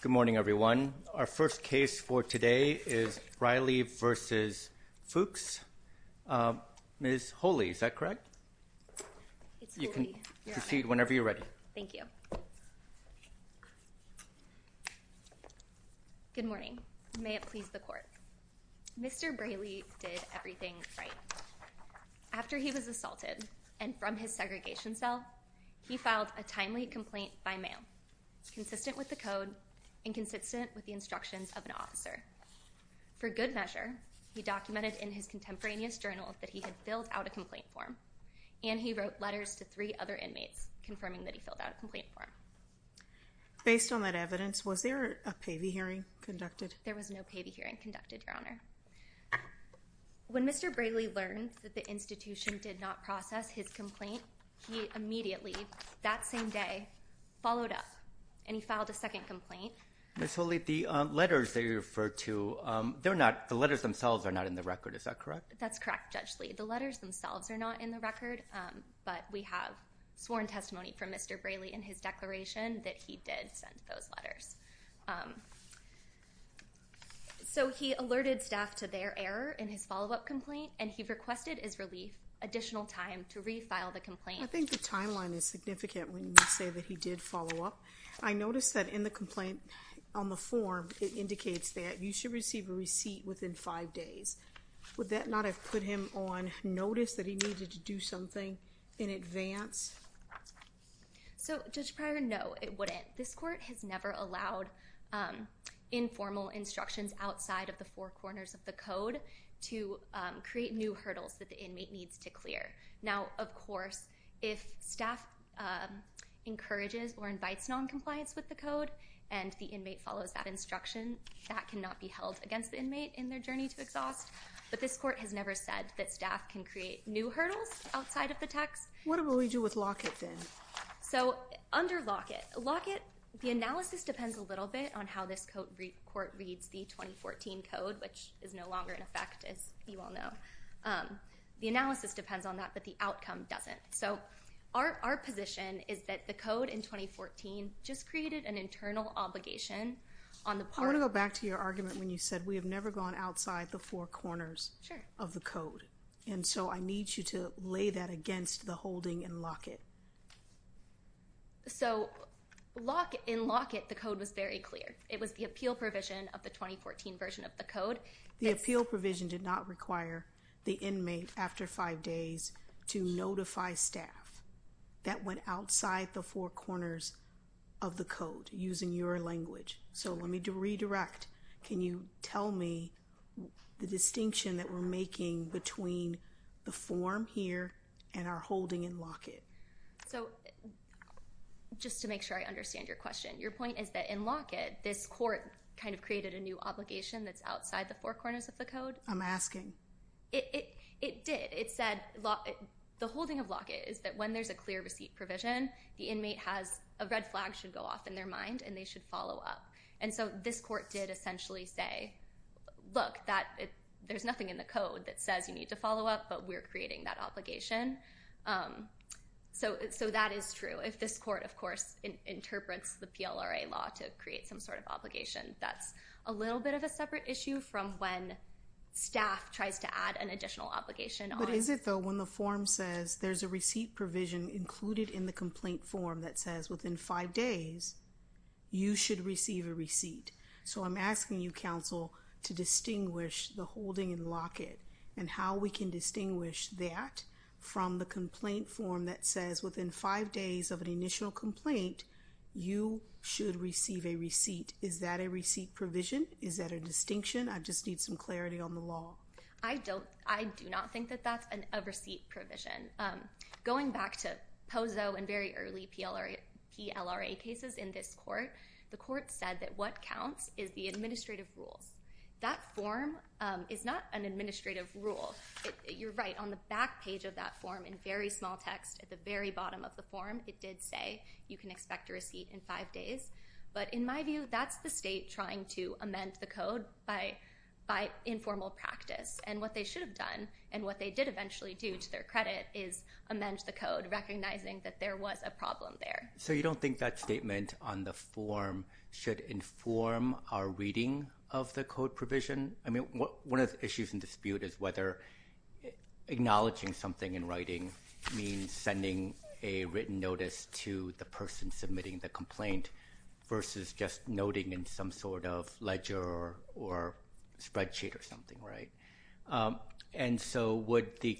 Good morning everyone. Our first case for today is Breyley v. Fuchs. Ms. Holey, is that correct? You can proceed whenever you're ready. Thank you. Good morning. May it please the court. Mr. Breyley did everything right. After he was assaulted and from his segregation cell, he filed a timely complaint by mail consistent with the code and consistent with the instructions of an officer. For good measure, he documented in his contemporaneous journal that he had filled out a complaint form and he wrote letters to three other inmates confirming that he filled out a complaint form. Based on that evidence, was there a pay-the-hearing conducted? There was no pay-the-hearing conducted, Your Honor. When Mr. Breyley learned that the institution did not process his filed a second complaint. Ms. Holey, the letters that you referred to, they're not, the letters themselves are not in the record, is that correct? That's correct, Judge Lee. The letters themselves are not in the record, but we have sworn testimony from Mr. Breyley in his declaration that he did send those letters. So he alerted staff to their error in his follow-up complaint and he requested his relief additional time to refile the complaint. I think the timeline is significant when you say that he did follow up. I noticed that in the complaint on the form, it indicates that you should receive a receipt within five days. Would that not have put him on notice that he needed to do something in advance? So, Judge Pryor, no, it wouldn't. This court has never allowed informal instructions outside of the four corners of the code to create new hurdles that the inmate needs to encourages or invites non-compliance with the code and the inmate follows that instruction. That cannot be held against the inmate in their journey to exhaust, but this court has never said that staff can create new hurdles outside of the text. What will we do with Lockett then? So, under Lockett, the analysis depends a little bit on how this court reads the 2014 code, which is no longer in effect, as you all know. The analysis depends on that, but the outcome doesn't. So, our position is that the code in 2014 just created an internal obligation on the part... I want to go back to your argument when you said we have never gone outside the four corners of the code, and so I need you to lay that against the holding in Lockett. So, in Lockett, the code was very clear. It was the appeal provision of the 2014 version of the code. The appeal provision did not require the inmate, after five days, to notify staff. That went outside the four corners of the code, using your language. So, let me redirect. Can you tell me the distinction that we're making between the form here and our holding in Lockett? So, just to make sure I understand your question, your point is that in Lockett, this court kind of created a new obligation that's outside the four corners of the code? I'm asking. It did. It said... the holding of Lockett is that when there's a clear receipt provision, the inmate has... a red flag should go off in their mind, and they should follow up. And so, this court did essentially say, look, there's nothing in the code that says you need to follow up, but we're creating that obligation. So, that is true. If this court, of course, interprets the PLRA law to create some sort of obligation, that's a little bit of a separate issue from when staff tries to add an additional obligation. But is it, though, when the form says there's a receipt provision included in the complaint form that says within five days, you should receive a receipt? So, I'm asking you, counsel, to distinguish the holding in Lockett, and how we can distinguish that from the complaint form that says within five days of an initial complaint, you should receive a receipt. Is that a receipt provision? Is that a distinction? I just need some clarity on the law. I don't... I do not think that that's a receipt provision. Going back to Pozo and very early PLRA cases in this court, the court said that what counts is the administrative rules. That form is not an administrative rule. You're right. On the bottom of the form, it did say you can expect a receipt in five days. But, in my view, that's the state trying to amend the code by informal practice. And what they should have done, and what they did eventually do to their credit, is amend the code, recognizing that there was a problem there. So, you don't think that statement on the form should inform our reading of the code provision? I mean, one of the issues in dispute is whether acknowledging something in writing means sending a written notice to the person submitting the complaint versus just noting in some sort of ledger or spreadsheet or something, right? And so, would the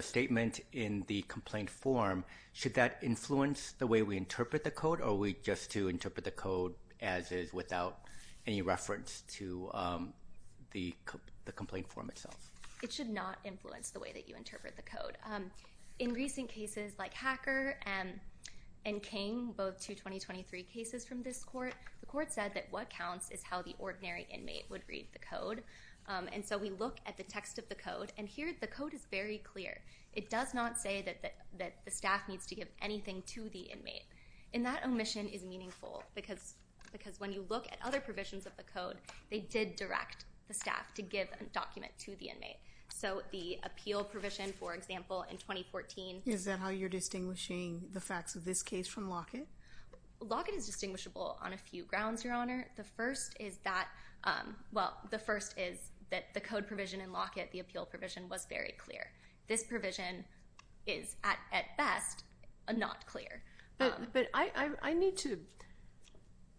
statement in the complaint form, should that influence the way we interpret the code? Or are we just to interpret the code as is without any reference to the complaint form itself? It should not influence the way that you interpret the code. In recent cases like Hacker and King, both two 2023 cases from this court, the court said that what counts is how the ordinary inmate would read the code. And so, we look at the text of the code. And here, the code is very clear. It does not say that the staff needs to give anything to the inmate. And that omission is meaningful because when you look at other provisions of the code, they did direct the staff to give a document to the inmate. Is that how you're distinguishing the facts of this case from Lockett? Lockett is distinguishable on a few grounds, Your Honor. The first is that, well, the first is that the code provision in Lockett, the appeal provision, was very clear. This provision is, at best, not clear. But I need to,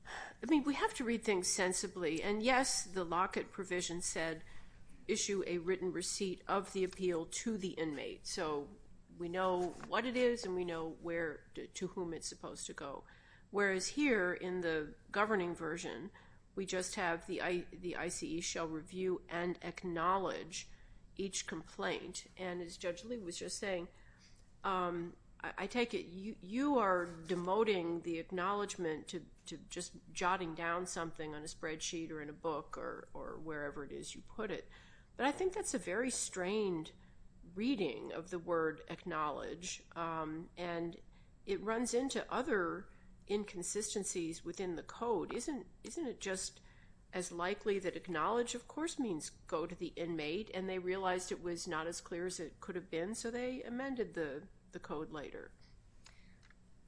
I mean, we have to read things sensibly. And yes, the Lockett provision said, issue a document. We know what it is and we know to whom it's supposed to go. Whereas here, in the governing version, we just have the ICE shall review and acknowledge each complaint. And as Judge Lee was just saying, I take it you are demoting the acknowledgement to just jotting down something on a spreadsheet or in a book or wherever it is you put it. But I think that's a very strained reading of the word acknowledge. And it runs into other inconsistencies within the code. Isn't it just as likely that acknowledge, of course, means go to the inmate and they realized it was not as clear as it could have been, so they amended the code later?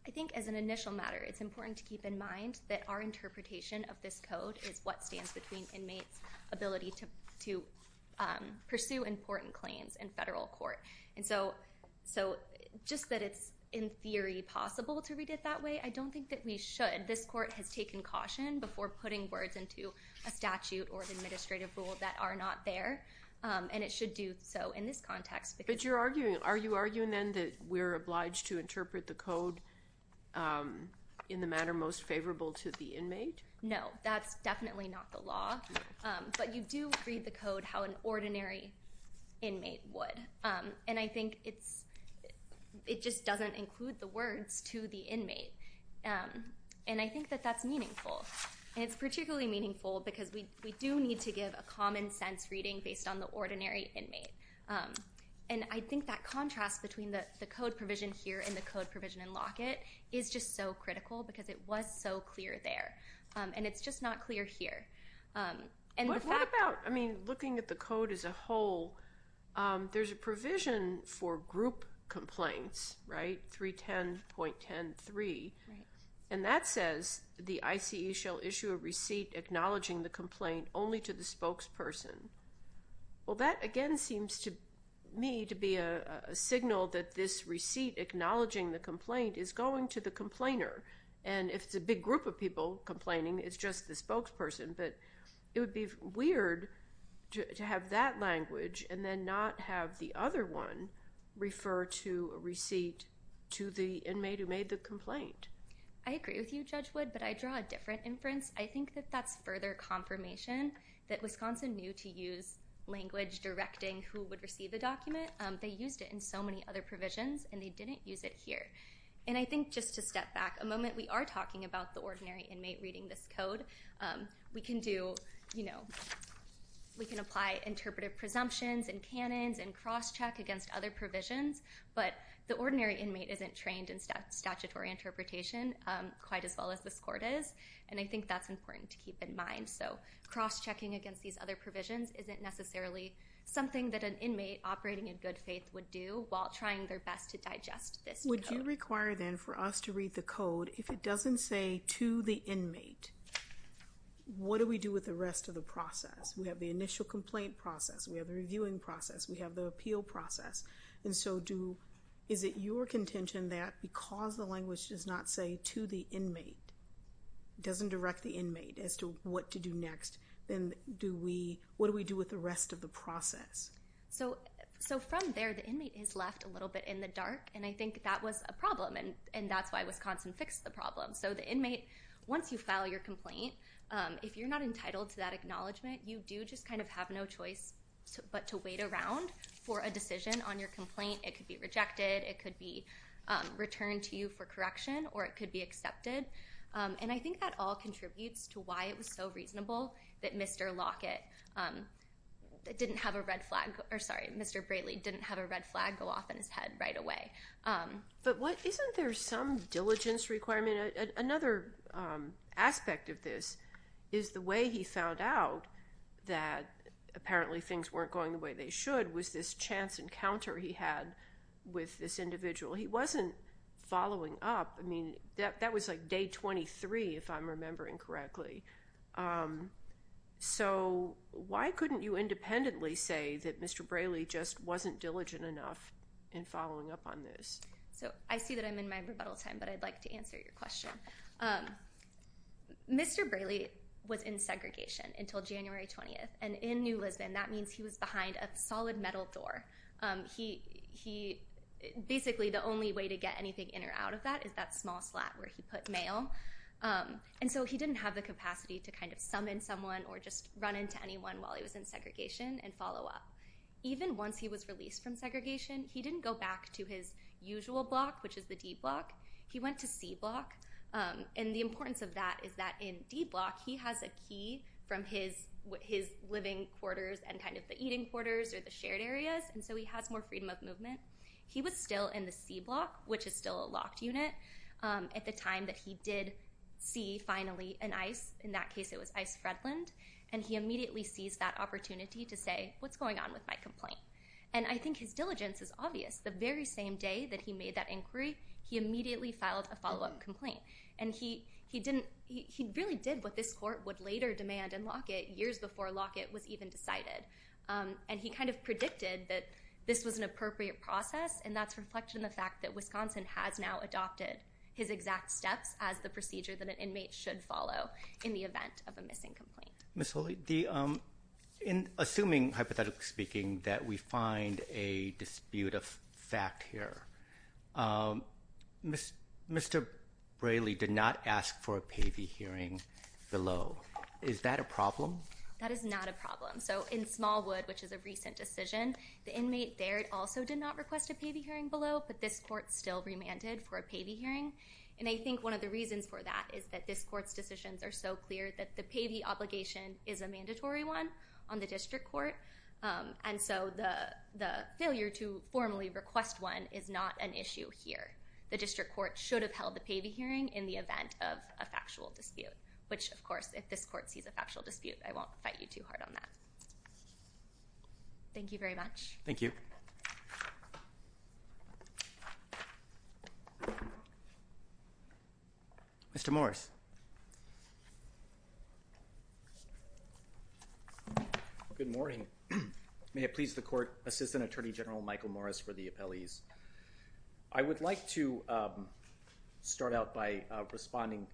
I think as an initial matter, it's important to keep in mind that our interpretation of this code is what stands between inmates' ability to pursue important claims in federal court. And so, just that it's in theory possible to read it that way, I don't think that we should. This court has taken caution before putting words into a statute or administrative rule that are not there. And it should do so in this context. But you're arguing, are you arguing then that we're obliged to interpret the code in the manner most But you do read the code how an ordinary inmate would. And I think it just doesn't include the words to the inmate. And I think that that's meaningful. And it's particularly meaningful because we do need to give a common sense reading based on the ordinary inmate. And I think that contrast between the code provision here and the code provision in Lockett is just so critical because it was so clear there. And it's just not clear here. What about, I mean, looking at the code as a whole, there's a provision for group complaints, right? 310.10.3. And that says the I.C.E. shall issue a receipt acknowledging the complaint only to the spokesperson. Well, that again seems to me to be a signal that this receipt acknowledging the complaint is going to the complainer. And if it's a big group of people complaining, it's just the spokesperson. But it would be weird to have that language and then not have the other one refer to a receipt to the inmate who made the complaint. I agree with you, Judge Wood, but I draw a different inference. I think that that's further confirmation that Wisconsin knew to use language directing who would receive the provisions and they didn't use it here. And I think just to step back a moment, we are talking about the ordinary inmate reading this code. We can do, you know, we can apply interpretive presumptions and canons and cross-check against other provisions, but the ordinary inmate isn't trained in statutory interpretation quite as well as this court is. And I think that's important to keep in mind. So cross-checking against these other provisions isn't necessarily something that an inmate operating in good faith would do while trying their best to digest this. Would you require then for us to read the code, if it doesn't say to the inmate, what do we do with the rest of the process? We have the initial complaint process, we have the reviewing process, we have the appeal process. And so do, is it your contention that because the language does not say to the inmate, doesn't direct the inmate as to what to do next, then do we, what do we do with the rest of the process? So from there, the inmate is left a little bit in the dark, and I think that was a problem, and that's why Wisconsin fixed the problem. So the inmate, once you file your complaint, if you're not entitled to that acknowledgement, you do just kind of have no choice but to wait around for a decision on your complaint. It could be rejected, it could be returned to you for correction, or it could be accepted. And I contributes to why it was so reasonable that Mr. Lockett didn't have a red flag, or sorry, Mr. Braley didn't have a red flag go off in his head right away. But what, isn't there some diligence requirement? Another aspect of this is the way he found out that apparently things weren't going the way they should was this chance encounter he had with this individual. He wasn't following up, I mean, that was like day 23, if I'm remembering correctly. So why couldn't you independently say that Mr. Braley just wasn't diligent enough in following up on this? So I see that I'm in my rebuttal time, but I'd like to answer your question. Mr. Braley was in segregation until January 20th, and in New Lisbon, that means he was behind a solid metal door. He, basically the only way to get anything in or out of that is that small slot where he put mail. And so he didn't have the capacity to kind of summon someone or just run into anyone while he was in segregation and follow up. Even once he was released from segregation, he didn't go back to his usual block, which is the D block, he went to C block. And the importance of that is that in D block, he has a key from his living quarters and kind of the eating quarters or the shared areas, and so he has more freedom of movement. He was still in the C block, which is still a locked unit, at the time that he did see finally an ICE, in that case it was ICE Fredlund, and he immediately seized that opportunity to say, what's going on with my complaint? And I think his diligence is obvious. The very same day that he made that inquiry, he immediately filed a follow-up complaint. And he really did what this court would later demand in Lockett, years before Lockett was even decided. And he kind of predicted that this was an appropriate process, and that's reflected in the fact that Wisconsin has now adopted his exact steps as the procedure that an inmate should follow in the event of a missing complaint. Ms. Hulley, in assuming, hypothetically speaking, that we find a dispute of fact here, Mr. Braley did not ask for a payee hearing below. Is that a problem? That is not a problem. So in Smallwood, which is a recent decision, the inmate there also did not request a payee hearing below, but this court still remanded for a payee hearing. And I think one of the reasons for that is that this court's decisions are so clear that the payee obligation is a mandatory one on the district court, and so the failure to formally request one is not an issue here. The district court should have held the payee hearing in the event of a factual dispute, which of course, if this court sees a factual dispute, I won't fight you too hard on that. Thank you very much. Thank you. Mr. Morris. Good morning. May it please the court, Assistant Attorney General Michael Morris for the appellees. I would like to start out by responding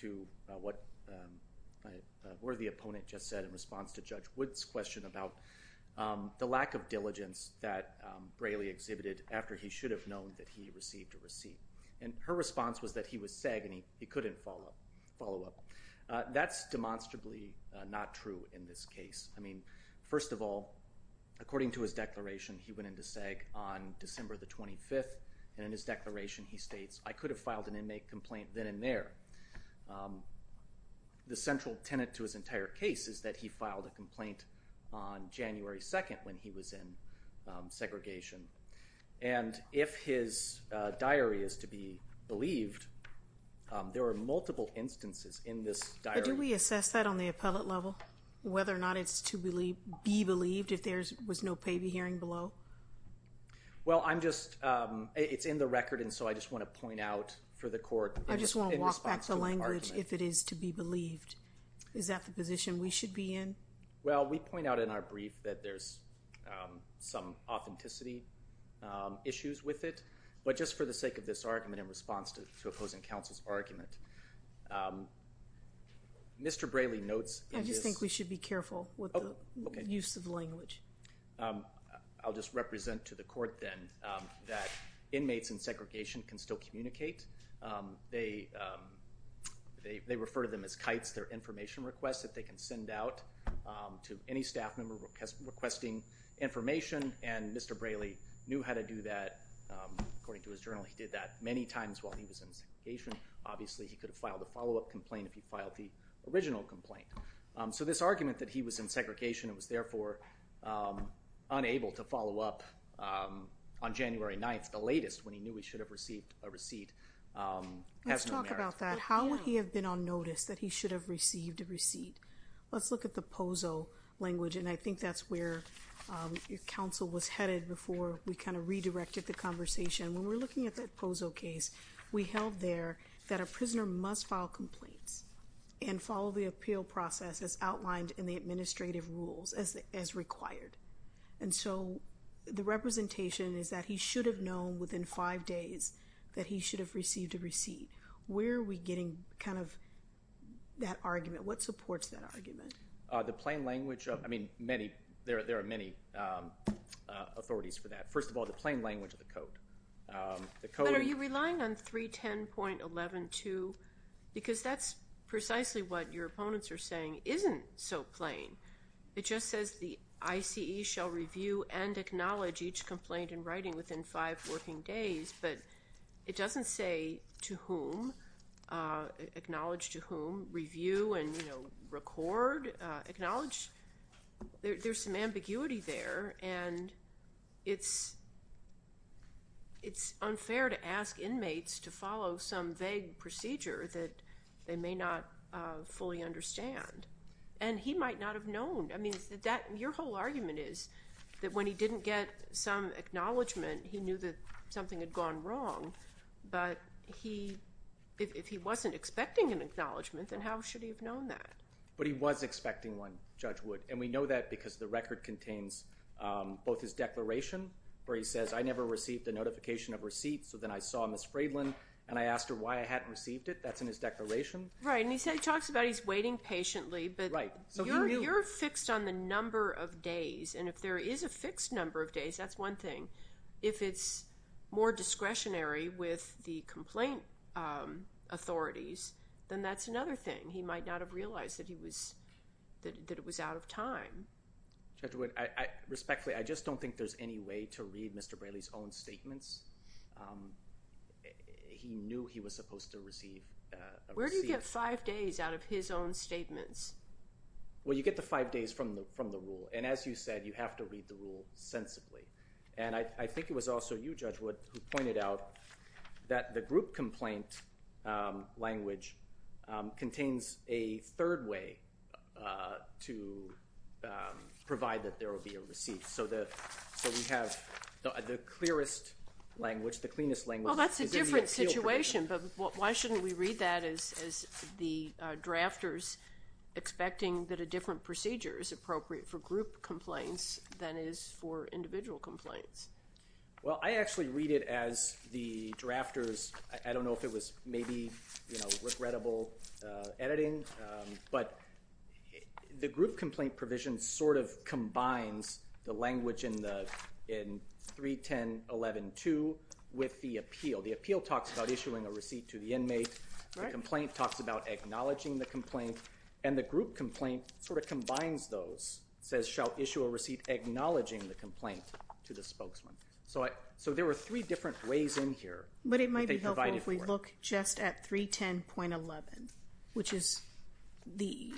to what a worthy opponent just said in response to Judge Wood's question about the lack of diligence that Braley exhibited after he should have known that he received a receipt. And her response was that he was sagging, he couldn't follow up. That's demonstrably not true in this case. I mean, first of all, according to his declaration, he went into SAG on December the 25th, and in his declaration he states, I could have filed an inmate complaint then and there. The central tenet to his entire case is that he filed a complaint on January 2nd when he was in segregation. And if his diary is to be believed, there are multiple instances in this diary. Do we assess that on the appellate level? Whether or not it's to be believed if there was no paybee hearing below? Well, I'm just, it's in the record and so I just want to point out for the court. I just want to walk back the language if it is to be believed. Is that the position we should be in? Well, we point out in our brief that there's some authenticity issues with it, but just for the sake of this argument in response to opposing counsel's argument. Mr. Braley notes... I just think we should be careful with the use of language. I'll just represent to the court then that inmates in segregation can still communicate. They refer to them as kites. They're information requests that they can send out to any staff member requesting information, and Mr. Braley knew how to do that. According to his journal, he did that many times while he was in segregation. Obviously, he could have filed a follow-up complaint if he filed the original complaint. So, this argument that he was in segregation and was therefore unable to follow up on January 9th, the latest when he knew he should have received a receipt, has no merit. Let's talk about that. How would he have been on notice that he should have received a receipt? Let's look at the POZO language, and I think that's where counsel was headed before we kind of redirected the conversation. When we're looking at that POZO case, we held there that a prisoner must file complaints and follow the appeal process as outlined in the administrative rules as required, and so the representation is that he should have known within five days that he should have received a receipt. Where are we getting kind of that argument? What supports that argument? The plain language... I mean, there are many authorities for that. First of all, the plain language of the code. But are you relying on 310.11 too? Because that's precisely what your opponents are saying isn't so plain. It just says the ICE shall review and acknowledge each complaint in writing within five working days, but it doesn't say to whom, acknowledge to whom, review and, you know, record, acknowledge. There's some ambiguity there, and it's unfair to ask inmates to follow some vague procedure that they may not fully understand, and he might not have known. I mean, your whole argument is that when he didn't get some acknowledgement, he knew that something had gone wrong, but if he wasn't expecting an acknowledgement, then how should he have known that? But he was saying that it contains both his declaration, where he says, I never received a notification of receipt, so then I saw Ms. Fraydlin, and I asked her why I hadn't received it. That's in his declaration. Right, and he talks about he's waiting patiently, but you're fixed on the number of days, and if there is a fixed number of days, that's one thing. If it's more discretionary with the complaint authorities, then that's another thing. He might not have realized that he was, that it was out of time. Judge Wood, respectfully, I just don't think there's any way to read Mr. Braley's own statements. He knew he was supposed to receive a receipt. Where do you get five days out of his own statements? Well, you get the five days from the rule, and as you said, you have to read the rule sensibly, and I think it was also you, Judge Wood, who pointed out that the group complaint language contains a third way to provide that there will be a receipt, so that, so we have the clearest language, the cleanest language. Well, that's a different situation, but why shouldn't we read that as the drafters expecting that a different procedure is appropriate for group complaints than is for individual complaints? Well, I actually read it as the drafters, I don't know if it was maybe, you know, regrettable editing, but the group complaint provision sort of combines the language in the, in 310.11.2 with the appeal. The appeal talks about issuing a receipt to the inmate, the complaint talks about acknowledging the complaint, and the group complaint sort of combines those, says shall issue a receipt acknowledging the complaint to the spokesman. So I, so there were three different ways in here. But it might be provided for. So if we look just at 310.11, which is the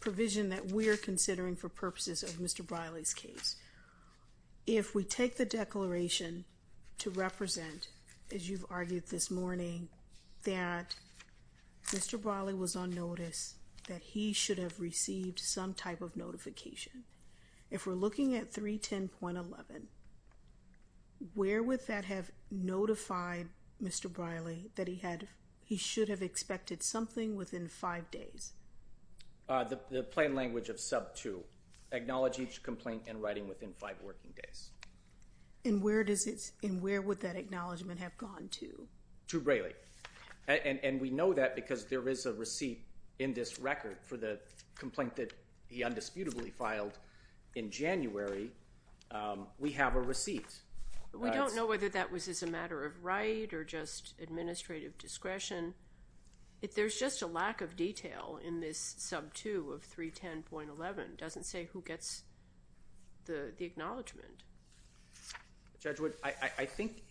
provision that we're considering for purposes of Mr. Briley's case, if we take the declaration to represent, as you've argued this morning, that Mr. Briley was on notice, that he should have received some type of notification, if we're looking at 310.11, where would that have notified Mr. Briley that he had, he should have expected something within five days? The plain language of sub two. Acknowledge each complaint in writing within five working days. And where does it, and where would that acknowledgement have gone to? To Briley. And we know that because there is a receipt in this record for the complaint that he undisputably filed in January. We have a receipt. We don't know whether that was as a matter of right or just administrative discretion. If there's just a lack of detail in this sub two of 310.11, doesn't say who gets the acknowledgement. Judge Wood, I think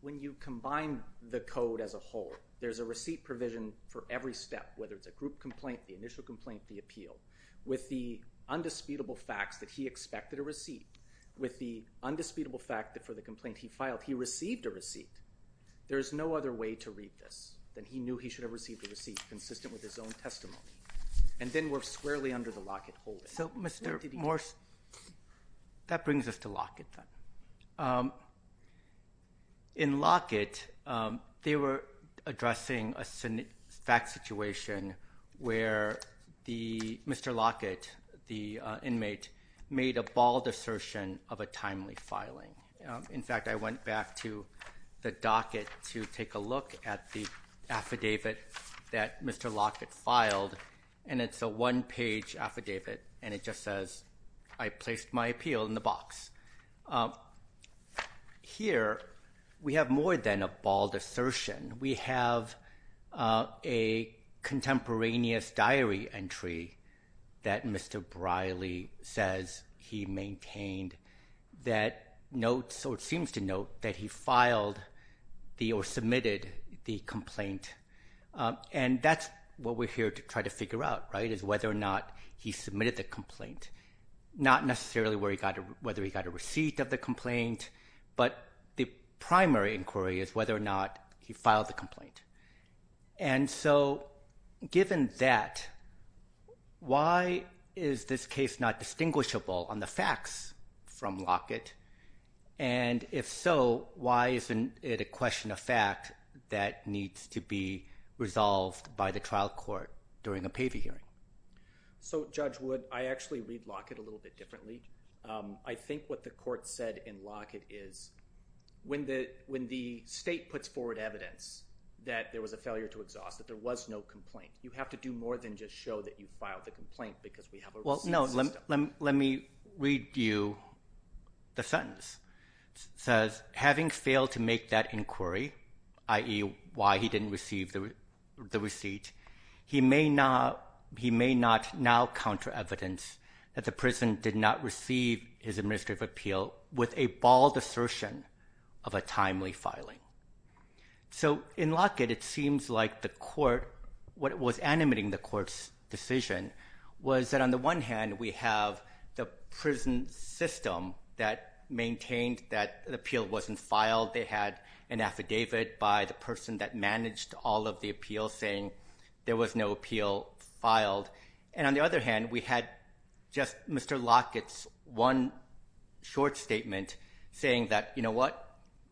when you combine the code as a whole, there's a receipt provision for every step, whether it's a group complaint, the initial complaint, the appeal, with the undisputable fact that for the complaint he filed, he received a receipt. There is no other way to read this, that he knew he should have received a receipt consistent with his own testimony. And then we're squarely under the Lockett holding. So Mr. Morse, that brings us to Lockett then. In Lockett, they were addressing a fact situation where the, Mr. Lockett, the inmate, made a bald assertion of a timely filing. In fact, I went back to the docket to take a look at the affidavit that Mr. Lockett filed, and it's a one-page affidavit, and it just says, I placed my appeal in the box. Here, we have more than a bald assertion. We have a contemporaneous diary entry that Mr. Briley says he maintained that notes, or it seems to note, that he filed the or submitted the complaint. And that's what we're here to try to figure out, right, is whether or not he submitted the complaint. Not necessarily whether he got a receipt of the complaint. And so given that, why is this case not distinguishable on the facts from Lockett? And if so, why isn't it a question of fact that needs to be resolved by the trial court during a PAVI hearing? So Judge Wood, I actually read Lockett a little bit differently. I think what the court said in Lockett is when the state puts forward evidence that there was a failure to exhaust, that there was no complaint, you have to do more than just show that you filed the complaint because we have a receipt system. Well, no, let me read you the sentence. It says, having failed to make that inquiry, i.e., why he didn't receive the receipt, he may not now counter evidence that the prison did not of a timely filing. So in Lockett, it seems like the court, what was animating the court's decision was that on the one hand, we have the prison system that maintained that the appeal wasn't filed. They had an affidavit by the person that managed all of the appeals saying there was no appeal filed. And on the other hand,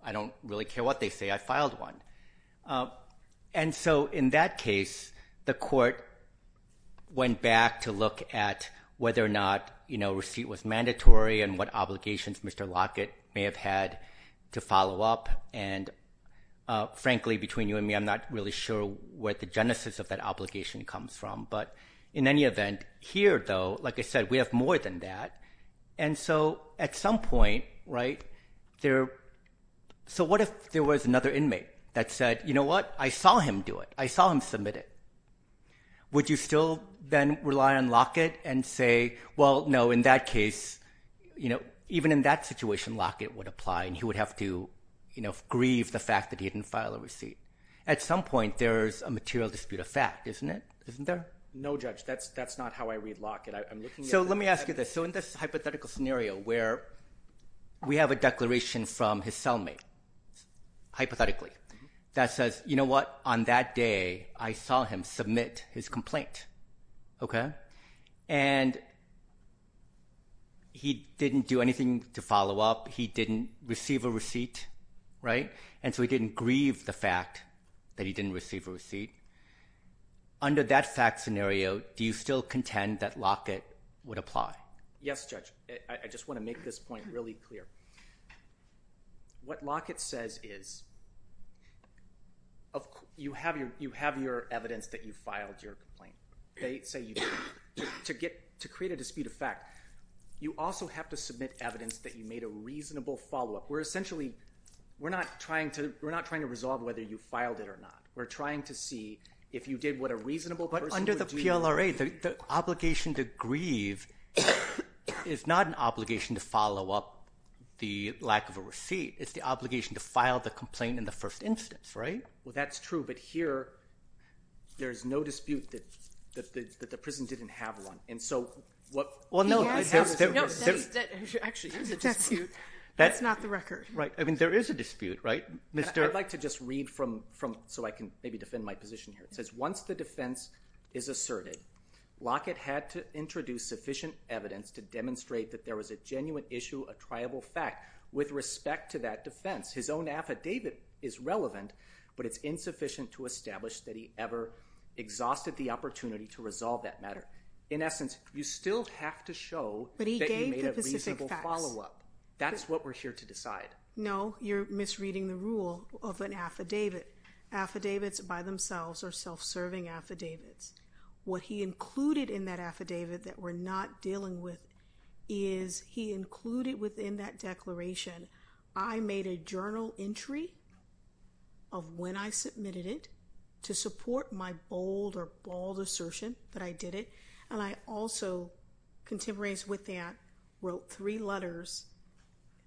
I don't really care what they say. I filed one. And so in that case, the court went back to look at whether or not, you know, receipt was mandatory and what obligations Mr. Lockett may have had to follow up. And frankly, between you and me, I'm not really sure where the genesis of that obligation comes from. But in any event, here though, like I said, we have more than that. And so at some point, right, there, so what if there was another inmate that said, you know what, I saw him do it. I saw him submit it. Would you still then rely on Lockett and say, well no, in that case, you know, even in that situation, Lockett would apply and he would have to, you know, grieve the fact that he didn't file a receipt. At some point, there's a material dispute of fact, isn't it? Isn't there? No, Judge, that's that's not how I read Lockett. So let me ask you this. So in this hypothetical scenario where we have a declaration from his cellmate, hypothetically, that says, you know what, on that day I saw him submit his complaint, okay, and he didn't do anything to follow up, he didn't receive a receipt, right, and so he didn't grieve the fact that he didn't receive a receipt. Under that fact scenario, do you still contend that Lockett would apply? Yes, Judge. I just want to make this point really clear. What Lockett says is, you have your, you have your evidence that you filed your complaint. They say you did. To get, to create a dispute of fact, you also have to submit evidence that you made a reasonable follow-up. We're essentially, we're not trying to, we're not trying to resolve whether you filed it or not. We're trying to see if you did what a reasonable person would do. But under the PLRA, the obligation to grieve is not an obligation to follow up the lack of a receipt. It's the obligation to file the complaint in the first instance, right? Well, that's true, but here there is no dispute that the prison didn't have one, and so what... Well, no. Actually, there is a dispute. That's not the record. Right, I mean, there is a dispute, right? I'd like to just read from, so I can maybe defend my position here. It says, the defense is asserted. Lockett had to introduce sufficient evidence to demonstrate that there was a genuine issue, a triable fact, with respect to that defense. His own affidavit is relevant, but it's insufficient to establish that he ever exhausted the opportunity to resolve that matter. In essence, you still have to show that you made a reasonable follow-up. That's what we're here to decide. No, you're misreading the rule of an affidavit. Affidavits by themselves are self-serving affidavits. What he included in that affidavit that we're not dealing with is, he included within that declaration, I made a journal entry of when I submitted it to support my bold or bald assertion that I did it, and I also, contemporaneous with that, wrote three letters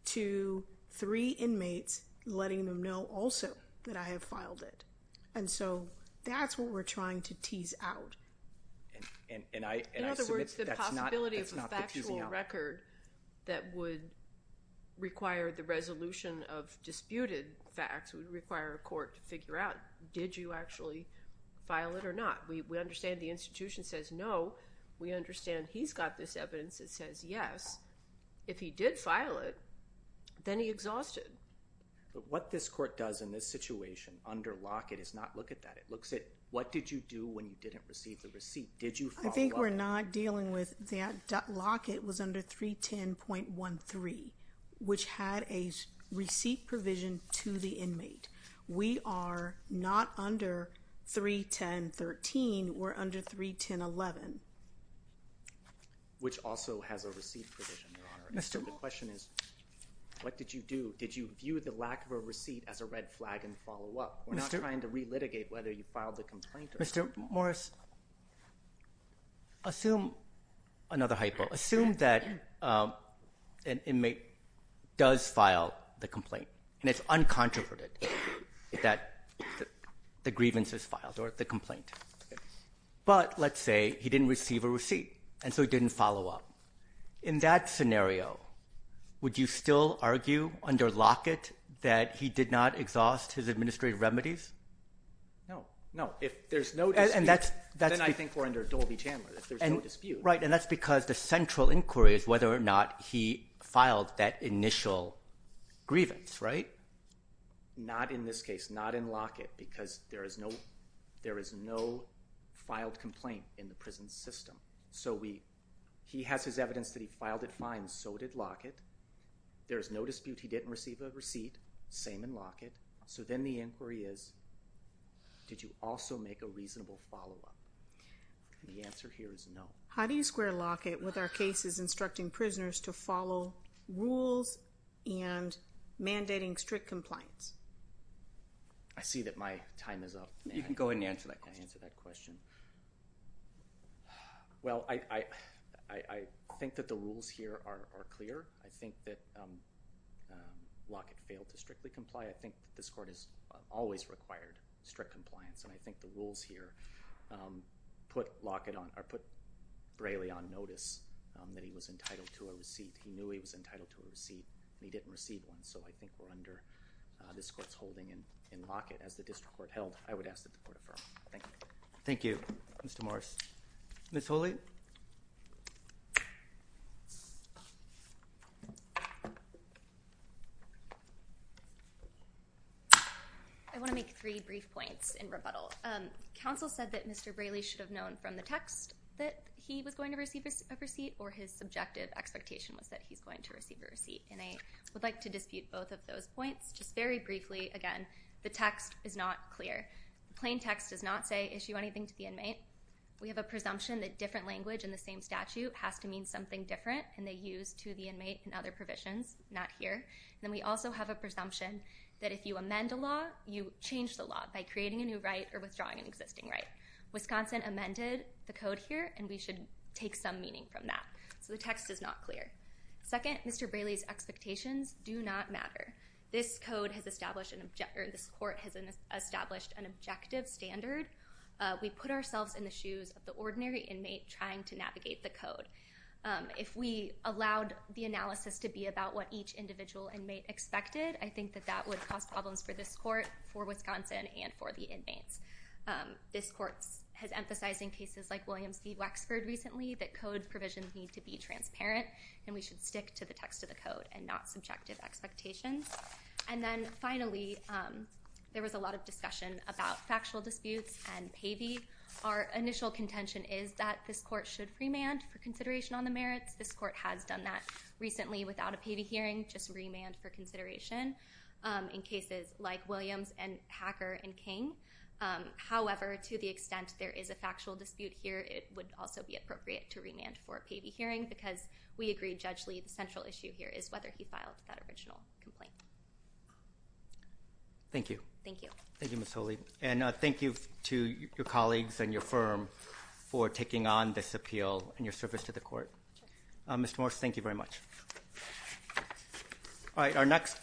to three inmates letting them know also that I have filed it. And so, that's what we're trying to tease out. In other words, the possibility of a factual record that would require the resolution of disputed facts would require a court to figure out, did you actually file it or not? We understand the institution says no. We understand he's got this evidence that says yes. If he did file it, then he exhausted. What this court does in this situation under Lockett is not look at that. It looks at, what did you do when you didn't receive the receipt? Did you follow up? I think we're not dealing with that. Lockett was under 310.13, which had a receipt provision to the inmate. We are not under 310.13. We're under 310.11. Which also has a receipt provision, Your Honor. So the question is, what did you do? Did you view the lack of a receipt as a red flag and follow up? We're not trying to relitigate whether you filed the complaint or not. Mr. Morris. Assume, another hypo, assume that an it's uncontroverted that the grievance is filed or the complaint. But let's say he didn't receive a receipt and so he didn't follow up. In that scenario, would you still argue under Lockett that he did not exhaust his administrative remedies? No. No. If there's no dispute, then I think we're under Dolby Chandler. If there's no dispute. Right. And that's because the central inquiry is whether or not he filed that initial grievance, right? Not in this case. Not in Lockett. Because there is no, there is no filed complaint in the prison system. So we, he has his evidence that he filed it fine. So did Lockett. There's no dispute he didn't receive a receipt. Same in Lockett. So then the inquiry is, did you also make a reasonable follow-up? The answer here is no. How do you square Lockett with our cases instructing prisoners to follow rules and mandating strict compliance? I see that my time is up. You can go ahead and answer that question. Well, I think that the rules here are clear. I think that Lockett failed to strictly comply. I think this court has always required strict compliance and I think the rules here put Lockett on or put Braley on notice that he was entitled to a receipt. He knew he was entitled to a receipt. He didn't receive one. So I think we're under this court's holding and in Lockett as the district court held, I would ask that the court affirm. Thank you. Thank you, Mr. Morris. Ms. Holey? I want to make three brief points in rebuttal. Counsel said that Mr. Braley should have known from the text that he was going to receive a receipt or his subjective expectation was that he's going to receive a receipt and I would like to dispute both of those points. Just very briefly, again, the text is not clear. The plain text does not say issue anything to the inmate. We have a presumption that if you amend a law, you change the law by creating a new right or withdrawing an existing right. Wisconsin amended the code here and we should take some meaning from that. So the text is not clear. Second, Mr. Braley's expectations do not matter. This court has established an objective standard. We put ourselves in the shoes of the ordinary inmate trying to navigate the code. If we allowed the analysis to be about what each individual inmate expected, I think that that would cause problems for this court, for Wisconsin, and for the inmates. This court has emphasized in cases like Williams v. Wexford recently that code provisions need to be transparent and we should stick to the text of the code and not subjective expectations. And then finally, there was a lot of discussion about factual disputes and payee. Our initial contention is that this court should remand for consideration on the merits. This court has done that recently without a payee hearing, just remand for consideration in cases like Williams and Hacker and King. However, to the extent there is a factual dispute here, it would also be appropriate to remand for a payee hearing because we agree, Judge Lee, the central issue here is whether he or she is a defendant. Thank you. Thank you. Thank you, Ms. Holy, and thank you to your colleagues and your firm for taking on this appeal and your service to the court. Mr. Morse, thank you very much.